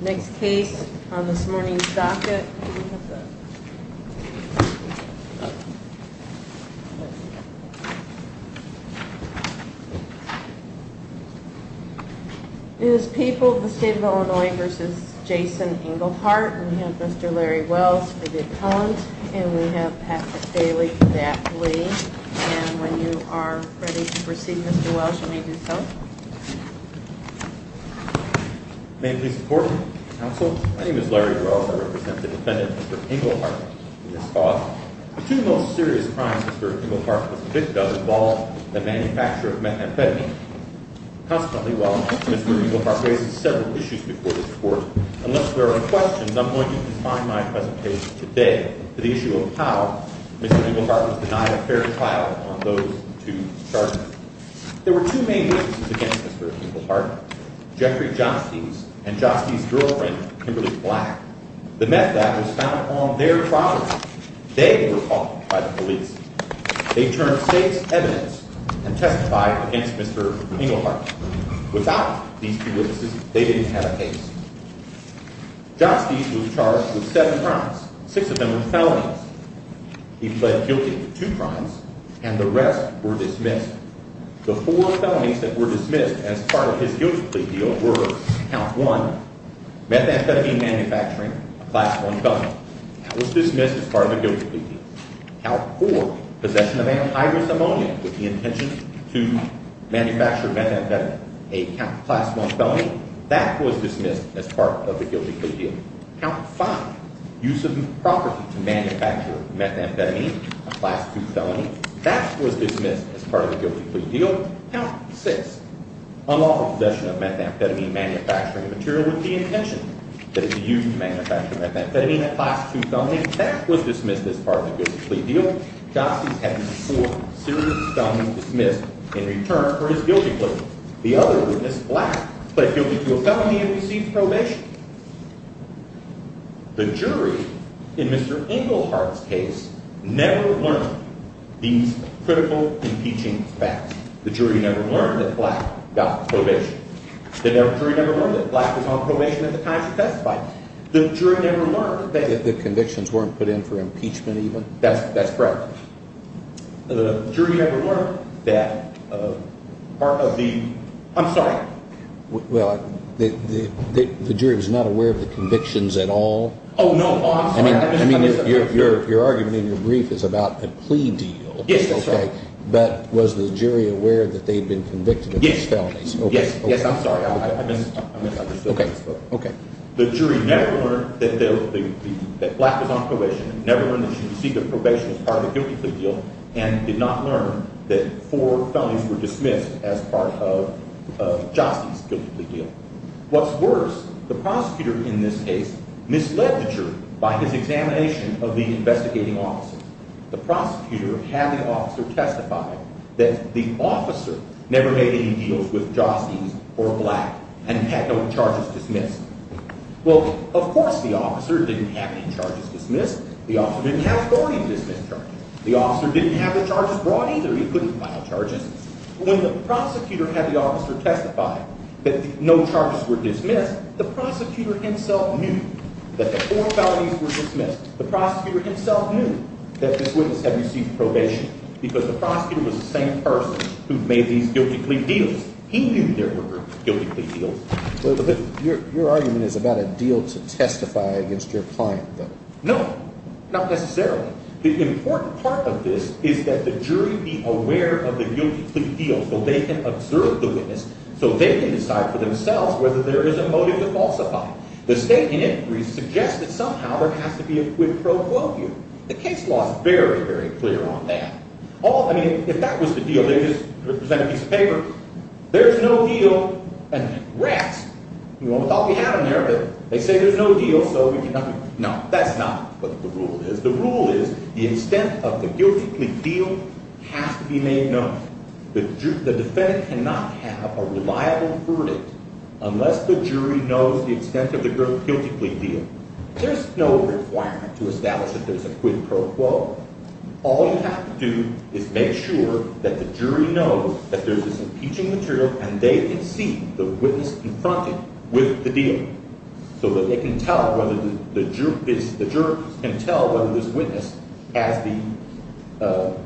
Next case on this morning's docket It is people of the state of Illinois v. Jason Engelhart We have Mr. Larry Wells for Dick Collins And we have Patrick Bailey for Daph Lee And when you are ready to proceed Mr. Wells you may do so May it please the court, counsel My name is Larry Wells, I represent the defendant Mr. Engelhart in this court The two most serious crimes Mr. Engelhart was a victim of involved the manufacture of methamphetamine Consequently, while Mr. Engelhart raises several issues before this court Unless there are any questions, I am going to confine my presentation today to the issue of how Mr. Engelhart was denied a fair trial on those two charges There were two main witnesses against Mr. Engelhart Jeffrey Johnsties and Johnsties' girlfriend Kimberly Black The meth lab was found on their property They were caught by the police They turned state's evidence and testified against Mr. Engelhart Without these two witnesses they didn't have a case Johnsties was charged with seven crimes, six of them were felonies He pled guilty to two crimes and the rest were dismissed The four felonies that were dismissed as part of his guilty plea deal were Count one, methamphetamine manufacturing, a class one felony That was dismissed as part of the guilty plea deal Count four, possession of antivirus ammonia with the intention to manufacture methamphetamine, a class one felony That was dismissed as part of the guilty plea deal Count five, use of property to manufacture methamphetamine, a class two felony That was dismissed as part of the guilty plea deal Count six, unlawful possession of methamphetamine manufacturing material with the intention to manufacture methamphetamine, a class two felony That was dismissed as part of the guilty plea deal Johnsties had four serious felonies dismissed in return for his guilty plea The other witness, Black, pled guilty to a felony and received probation The jury, in Mr. Englehart's case, never learned these critical impeaching facts The jury never learned that Black got probation The jury never learned that Black was on probation at the time he testified The jury never learned that the convictions weren't put in for impeachment even That's correct The jury never learned that part of the, I'm sorry Well, the jury was not aware of the convictions at all? Oh, no, I'm sorry I mean, your argument in your brief is about a plea deal Yes, that's right Okay, but was the jury aware that they'd been convicted of these felonies? Yes, yes, I'm sorry, I misunderstood Okay, okay The jury never learned that Black was on probation Never learned that she received a probation as part of the guilty plea deal And did not learn that four felonies were dismissed as part of Joste's guilty plea deal What's worse, the prosecutor in this case misled the jury by his examination of the investigating officer The prosecutor had the officer testify that the officer never made any deals with Joste's or Black And had no charges dismissed Well, of course the officer didn't have any charges dismissed The officer didn't have authority to dismiss charges The officer didn't have the charges brought either, he couldn't file charges When the prosecutor had the officer testify that no charges were dismissed The prosecutor himself knew that the four felonies were dismissed The prosecutor himself knew that this witness had received probation Because the prosecutor was the same person who made these guilty plea deals He knew there were guilty plea deals Your argument is about a deal to testify against your client, though No, not necessarily The important part of this is that the jury be aware of the guilty plea deal So they can observe the witness So they can decide for themselves whether there is a motive to falsify The state in it suggests that somehow there has to be a quid pro quo here The case law is very, very clear on that I mean, if that was the deal, they would just present a piece of paper There's no deal And rats, you almost thought we had them there But they say there's no deal, so we cannot No, that's not what the rule is The rule is the extent of the guilty plea deal has to be made known The defendant cannot have a reliable verdict Unless the jury knows the extent of the guilty plea deal There's no requirement to establish that there's a quid pro quo All you have to do is make sure that the jury knows that there's this impeaching material And they can see the witness confronted with the deal So the jury can tell whether this witness has the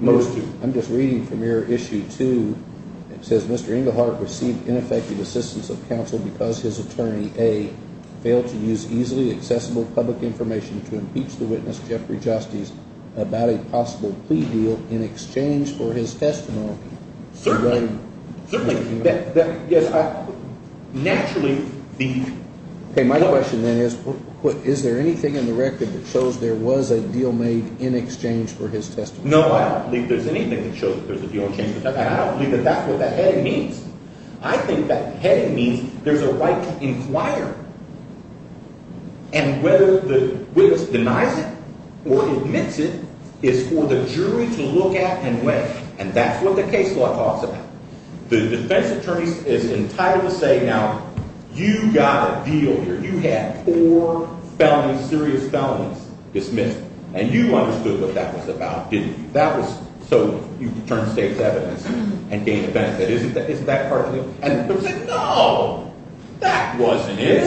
motive I'm just reading from your issue 2 It says Mr. Englehart received ineffective assistance of counsel because his attorney A Failed to use easily accessible public information to impeach the witness Jeffrey Justis About a possible plea deal in exchange for his testimony Certainly, naturally My question then is, is there anything in the record that shows there was a deal made in exchange for his testimony? No, I don't believe there's anything that shows there's a deal in exchange for testimony And I don't believe that that's what that heading means I think that heading means there's a right to inquire And whether the witness denies it or admits it is for the jury to look at and weigh And that's what the case law talks about The defense attorney is entitled to say, now, you got a deal here You had four serious felonies dismissed And you understood what that was about, didn't you? That was so you could turn to state's evidence and gain defense That isn't that part of the deal? No, that wasn't it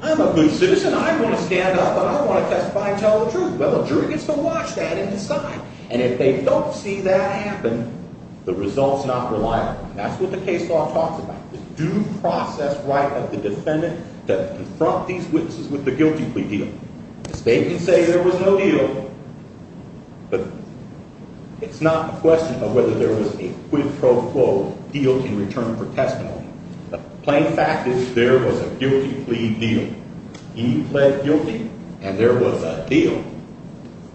I'm a good citizen, I want to stand up and I want to testify and tell the truth Well, the jury gets to watch that and decide And if they don't see that happen, the result's not reliable That's what the case law talks about The due process right of the defendant to confront these witnesses with the guilty plea deal The state can say there was no deal But it's not a question of whether there was a quid pro quo deal in return for testimony The plain fact is there was a guilty plea deal He pled guilty and there was a deal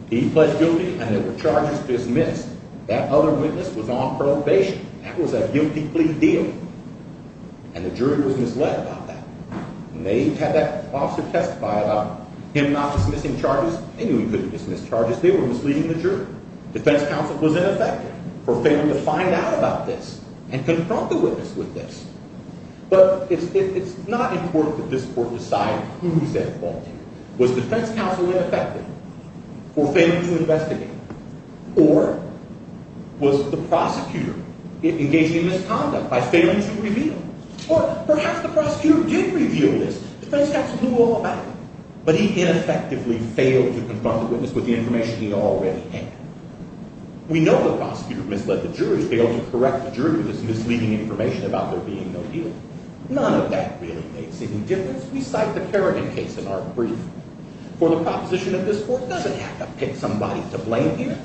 He pled guilty and there were charges dismissed That other witness was on probation That was a guilty plea deal And the jury was misled about that And they had that officer testify about him not dismissing charges They knew he couldn't dismiss charges, they were misleading the jury Defense counsel was ineffective for failing to find out about this And confront the witness with this But it's not important that this court decide who's at fault Was defense counsel ineffective for failing to investigate? Or was the prosecutor engaged in misconduct by failing to reveal? Or perhaps the prosecutor did reveal this Defense counsel knew all about it But he ineffectively failed to confront the witness with the information he already had We know the prosecutor misled the jury, failed to correct the jury With his misleading information about there being no deal None of that really makes any difference We cite the Kerrigan case in our brief For the proposition that this court doesn't have to pick somebody to blame here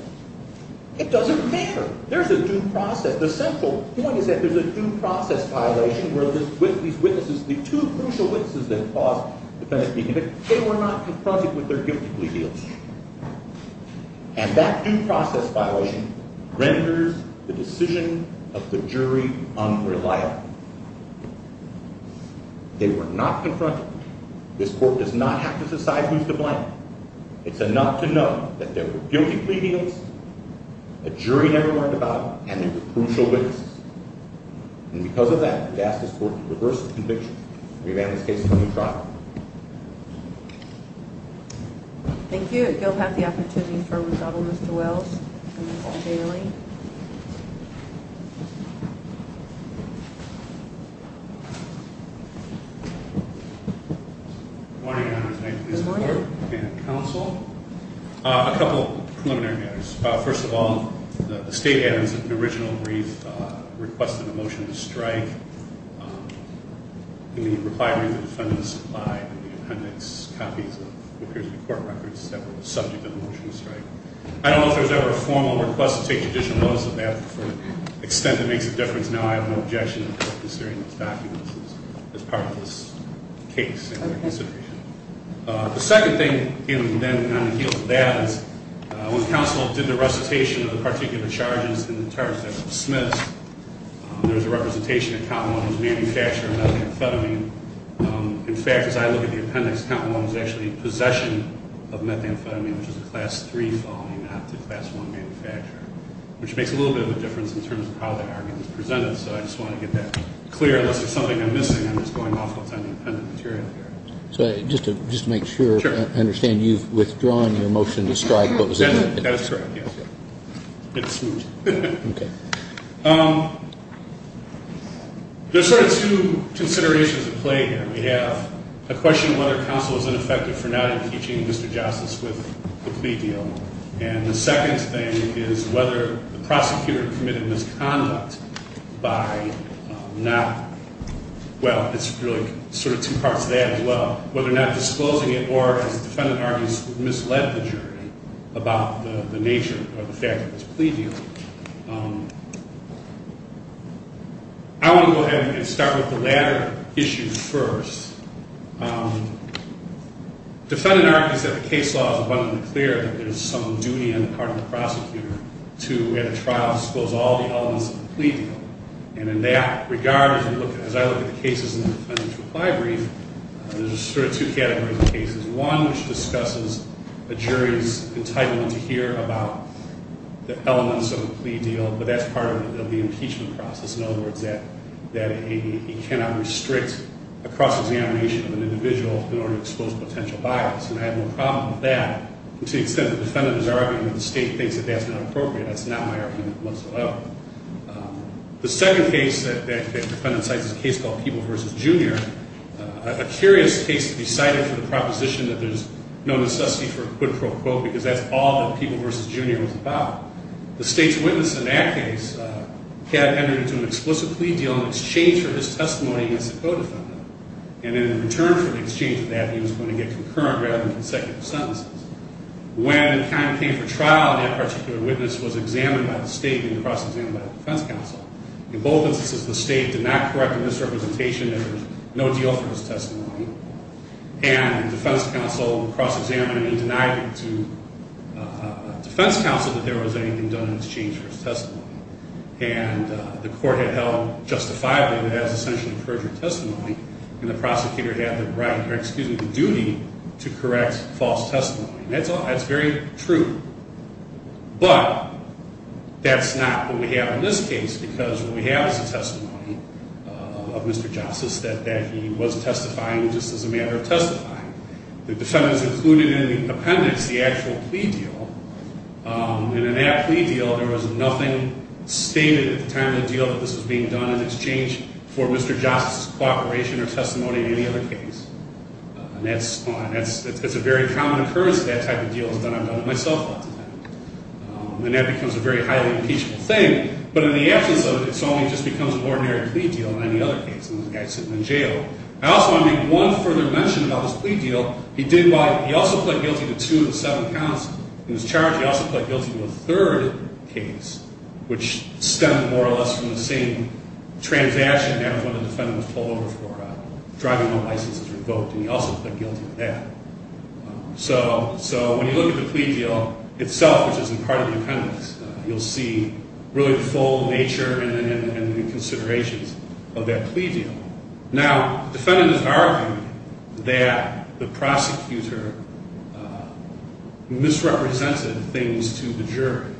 It doesn't matter There's a due process The central point is that there's a due process violation Where these witnesses, the two crucial witnesses that caused the defendant to be convicted They were not confronted with their guilty plea deals And that due process violation renders the decision of the jury unreliable They were not confronted This court does not have to decide who's to blame It's enough to know that there were guilty plea deals The jury never learned about them And they were crucial witnesses And because of that, we ask this court to reverse the conviction And revamp this case to a new trial Thank you, at Guilfath the opportunity for a rebuttal, Mr. Wells And Ms. Paul Bailey Good morning, Your Honor Good morning And counsel A couple of preliminary matters First of all, the state has in the original brief Requested a motion to strike In the reply brief, the defendant supplied the appendix copies of Appears to be court records that were subject to the motion to strike I don't know if there was ever a formal request to take additional notice of that To the extent that makes a difference Now I have no objection As part of this case The second thing On the heels of that When counsel did the recitation of the particular charges And the terms that were dismissed There was a representation of Count Long As a manufacturer of methamphetamine In fact, as I look at the appendix Count Long is actually in possession of methamphetamine Which is a class 3 felony, not the class 1 manufacturer Which makes a little bit of a difference in terms of how that argument is presented So I just want to get that clear Unless there's something I'm missing I'm just going off what's on the appendix material So just to make sure I understand You've withdrawn your motion to strike That's right, yes It's smooth Okay There's sort of two considerations at play here We have a question of whether counsel is ineffective For not impeaching Mr. Jostice with the plea deal And the second thing is whether the prosecutor committed misconduct By not... Well, it's really sort of two parts to that as well Whether or not disclosing it Or has defendant argued misled the jury About the nature or the fact of this plea deal I want to go ahead and start with the latter issue first Defendant argues that the case law is abundantly clear That there's some duty on the part of the prosecutor To, at a trial, disclose all the elements of the plea deal And in that regard, as I look at the cases in the defendant's reply brief There's sort of two categories of cases One, which discusses a jury's entitlement to hear about The elements of a plea deal But that's part of the impeachment process In other words, that he cannot restrict a cross-examination of an individual In order to expose potential bias And I have no problem with that To the extent that the defendant is arguing that the state thinks that that's not appropriate That's not my argument whatsoever The second case that the defendant cites Is a case called People v. Junior A curious case to be cited for the proposition That there's no necessity for a quid pro quo Because that's all that People v. Junior was about The state's witness in that case Had entered into an explicit plea deal In exchange for his testimony against a co-defendant And in return for the exchange of that He was going to get concurrent rather than consecutive sentences When time came for trial That particular witness was examined by the state And cross-examined by the defense counsel In both instances, the state did not correct the misrepresentation There was no deal for his testimony And the defense counsel cross-examined And denied it to the defense counsel That there was anything done in exchange for his testimony And the court had held justifiably That it has essentially perjured testimony And the prosecutor had the right, or excuse me, the duty To correct false testimony And that's very true But that's not what we have in this case Because what we have is the testimony of Mr. Johnson That he was testifying just as a matter of testifying The defendant's included in the appendix The actual plea deal And in that plea deal there was nothing stated At the time of the deal that this was being done In exchange for Mr. Johnson's cooperation or testimony In any other case And that's a very common occurrence That that type of deal is done, I've done it myself And that becomes a very highly impeachable thing But in the absence of it, it only just becomes An ordinary plea deal in any other case And the guy's sitting in jail I also want to make one further mention about this plea deal He also pled guilty to two of the seven counts In his charge, he also pled guilty to a third case Which stemmed more or less from the same transaction That one of the defendants pulled over for Driving a license that was revoked And he also pled guilty to that So when you look at the plea deal itself Which is in part of the appendix You'll see really the full nature And the considerations of that plea deal Now, the defendant is arguing That the prosecutor Misrepresented things to the jury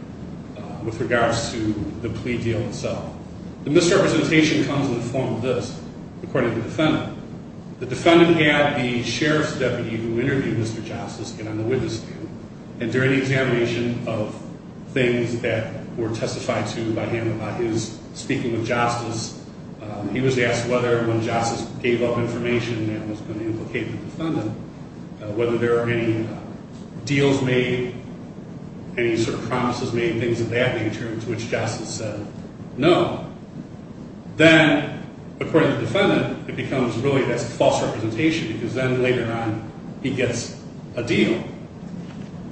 With regards to the plea deal itself The misrepresentation comes in the form of this According to the defendant The defendant had the sheriff's deputy Who interviewed Mr. Jostice Get on the witness stand And during the examination of things That were testified to by him About his speaking with Jostice He was asked whether when Jostice gave up information That was going to implicate the defendant Whether there were any deals made Any sort of promises made, things of that nature To which Justice said no Then, according to the defendant It becomes really, that's a false representation Because then later on, he gets a deal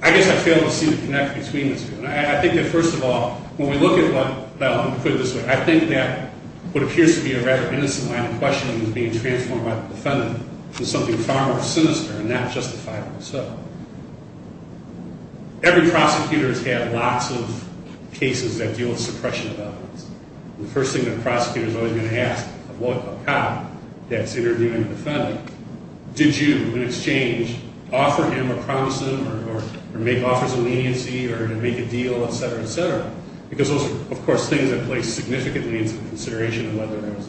I guess I fail to see the connect between the two And I think that first of all When we look at what, well, I'll put it this way I think that what appears to be a rather innocent line of questioning Is being transformed by the defendant To something far more sinister And not justifiably so Every prosecutor has had lots of cases That deal with suppression of evidence The first thing that a prosecutor is always going to ask A cop that's interviewing a defendant Did you, in exchange, offer him or promise him Or make offers of leniency Or make a deal, etc., etc. Because those are, of course, things that play significantly Into consideration of whether there was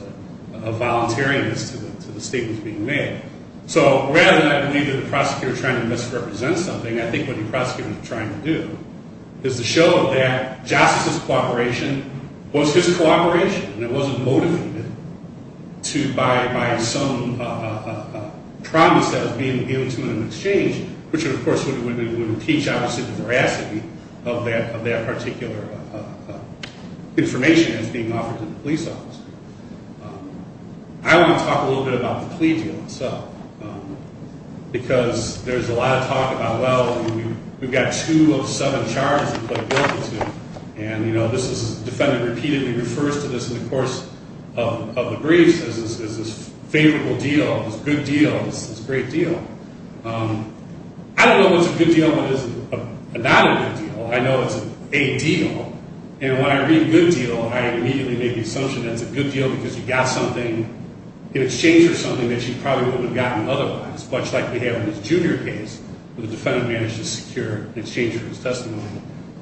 a Voluntariness to the statements being made So, rather than I believe that the prosecutor Is trying to misrepresent something I think what the prosecutor is trying to do Is to show that Justice's cooperation Was his cooperation And it wasn't motivated By some promise that was being given to him in exchange Which, of course, would impeach, obviously, the veracity Of that particular information That's being offered to the police officer I want to talk a little bit about the plea deal Because there's a lot of talk about Well, we've got two of seven charges We've pled guilty to And, you know, this is The defendant repeatedly refers to this In the course of the briefs As this favorable deal This good deal This great deal I don't know what's a good deal And what is not a good deal I know it's a deal And when I read good deal I immediately make the assumption that it's a good deal Because you got something In exchange for something That you probably wouldn't have gotten otherwise Much like we have in this junior case Where the defendant managed to secure In exchange for his testimony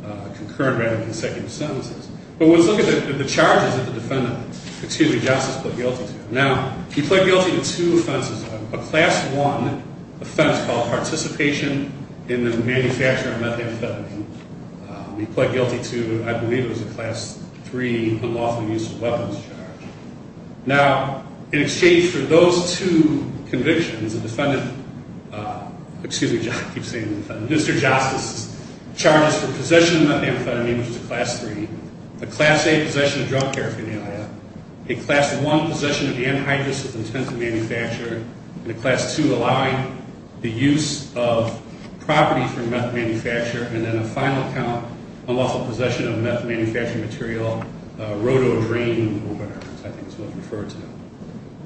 A concurrent rather than consecutive sentence But let's look at the charges that the defendant Excuse me, Justice, pled guilty to Now, he pled guilty to two offenses A class one offense called Participation in the manufacture of methamphetamine He pled guilty to I believe it was a class three Unlawful use of weapons charge Now, in exchange for those two convictions The defendant Excuse me, I keep saying the defendant Mr. Justice Charges for possession of methamphetamine Which is a class three A class A possession of drug paraphernalia A class one possession of anhydrous With intent to manufacture And a class two allowing The use of property from meth manufacture And then a final count Unlawful possession of meth manufacturing material A rotodrain I think it's what's referred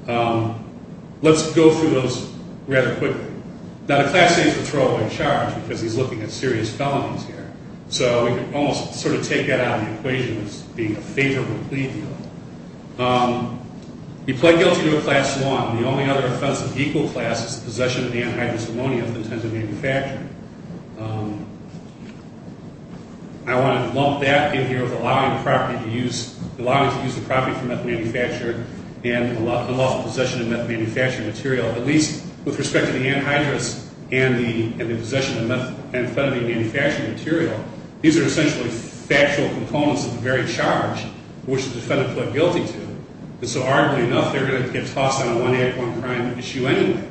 to Let's go through those Rather quickly Now, the class A is a throwaway charge Because he's looking at serious felonies here So we can almost sort of take that out of the equation As being a favorable plea deal He pled guilty to a class one And the only other offense of equal class Is possession of anhydrous ammonia With intent to manufacture I want to lump that in here With allowing the property to use Allowing to use the property for meth manufacture And unlawful possession of meth manufacturing material At least with respect to the anhydrous And the possession of methamphetamine Manufacturing material These are essentially factual components Of the very charge Which the defendant pled guilty to And so arguably enough They're going to get tossed on a one act one crime issue anyway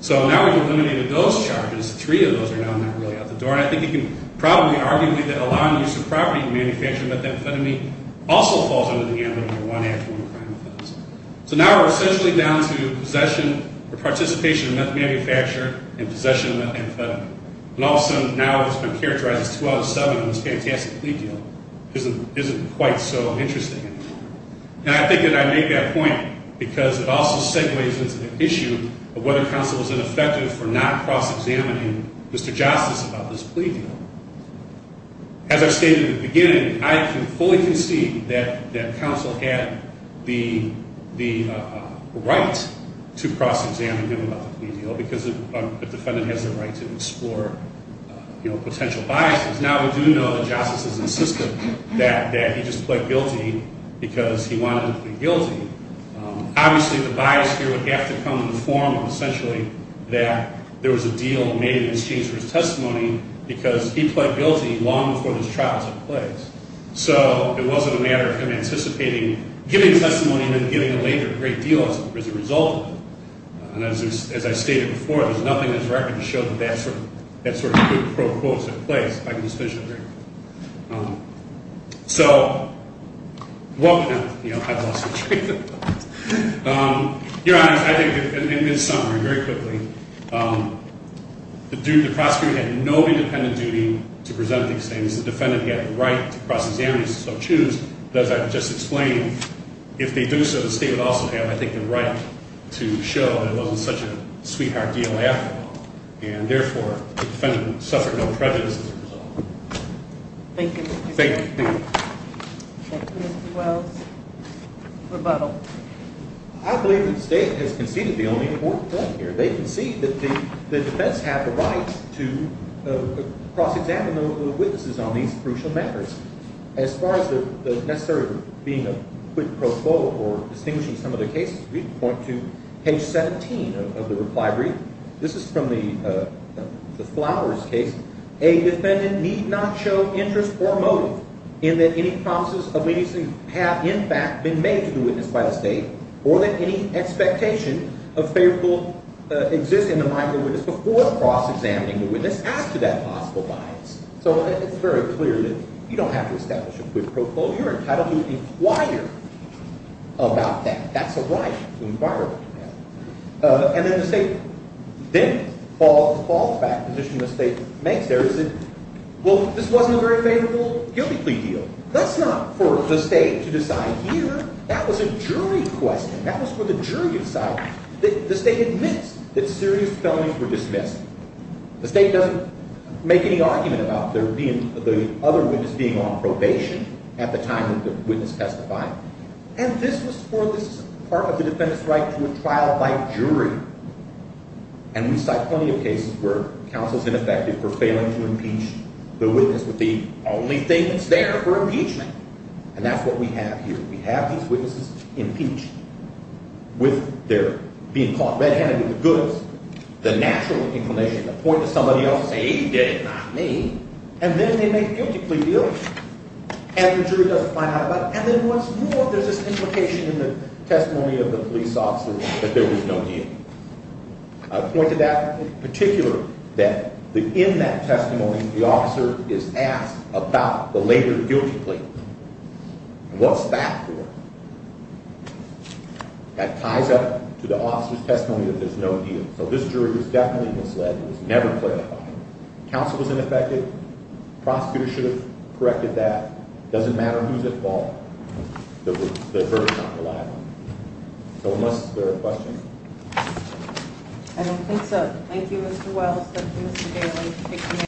So now we've eliminated those charges Three of those Three of those are now not really out the door And I think you can probably argue That allowing the use of property to manufacture methamphetamine Also falls under the ambit of a one act one crime So now we're essentially down to Possession or participation Of meth manufacture And possession of methamphetamine And all of a sudden now it's been characterized As two out of seven on this fantastic plea deal Which isn't quite so interesting And I think that I made that point Because it also segues into the issue Of whether counsel is ineffective For not cross examining Mr. Jostice About this plea deal As I stated in the beginning I can fully concede That counsel had the The right To cross examine him about the plea deal Because the defendant has the right To explore Potential biases Now we do know that Jostice has insisted That he just pled guilty Because he wanted to plead guilty Obviously the bias here would have to come In the form of essentially That there was a deal made in exchange for his testimony Because he pled guilty Long before this trial took place So it wasn't a matter of him Anticipating giving testimony And then giving a later great deal As a result of it And as I stated before There's nothing in this record to show that that sort of Good pro quo took place If I can just finish up here So I've lost my train of thought Your Honor I think in summary very quickly The prosecutor Had no independent duty To present these things The defendant had the right to cross examine As I just explained If they do so the state would also have I think the right to show That it wasn't such a sweetheart deal after all And therefore the defendant Suffered no prejudice as a result Thank you Thank you Thank you Mr. Wells Rebuttal I believe the state has conceded the only important point here They concede that the defense had the right To cross examine The witnesses on these crucial matters As far as The necessary being a quick pro quo Or distinguishing some of the cases We point to page 17 Of the reply brief This is from the Flowers case A defendant need not show Interest or motive in that any Promises of leniency have in fact Been made to the witness by the state Or that any expectation Of favorable exists in the mind Of the witness before cross examining The witness as to that possible bias So it's very clear that You don't have to establish a quick pro quo You're entitled to inquire About that, that's a right To inquire about that And then the state then Falls back to the position the state Makes there, well this Wasn't a very favorable guilty plea deal That's not for the state to decide Here, that was a jury Question, that was for the jury to decide The state admits that serious Felonies were dismissed The state doesn't make any argument About the other witness Being on probation at the time That the witness testified And this was for this part of the defendant's Right to a trial by jury And we cite plenty Of cases where counsel's ineffective For failing to impeach the witness With the only thing that's there for impeachment And that's what we have here We have these witnesses impeached With their Being caught red handed with the goods The natural inclination to point To somebody else and say he did it, not me And then they make a guilty plea deal And the jury doesn't find out about it And then once more there's this implication In the testimony of the police officer That there was no deal I pointed that In particular that In that testimony the officer Is asked about the later Guilty plea What's that for? That ties up To the officer's testimony that there's no deal So this jury was definitely misled It was never clarified Counsel was ineffective, prosecutor should have Corrected that, doesn't matter Who's at fault The verdict's not reliable So unless there are questions I don't think so Thank you Mr. Wells Thank you Mr. Bailey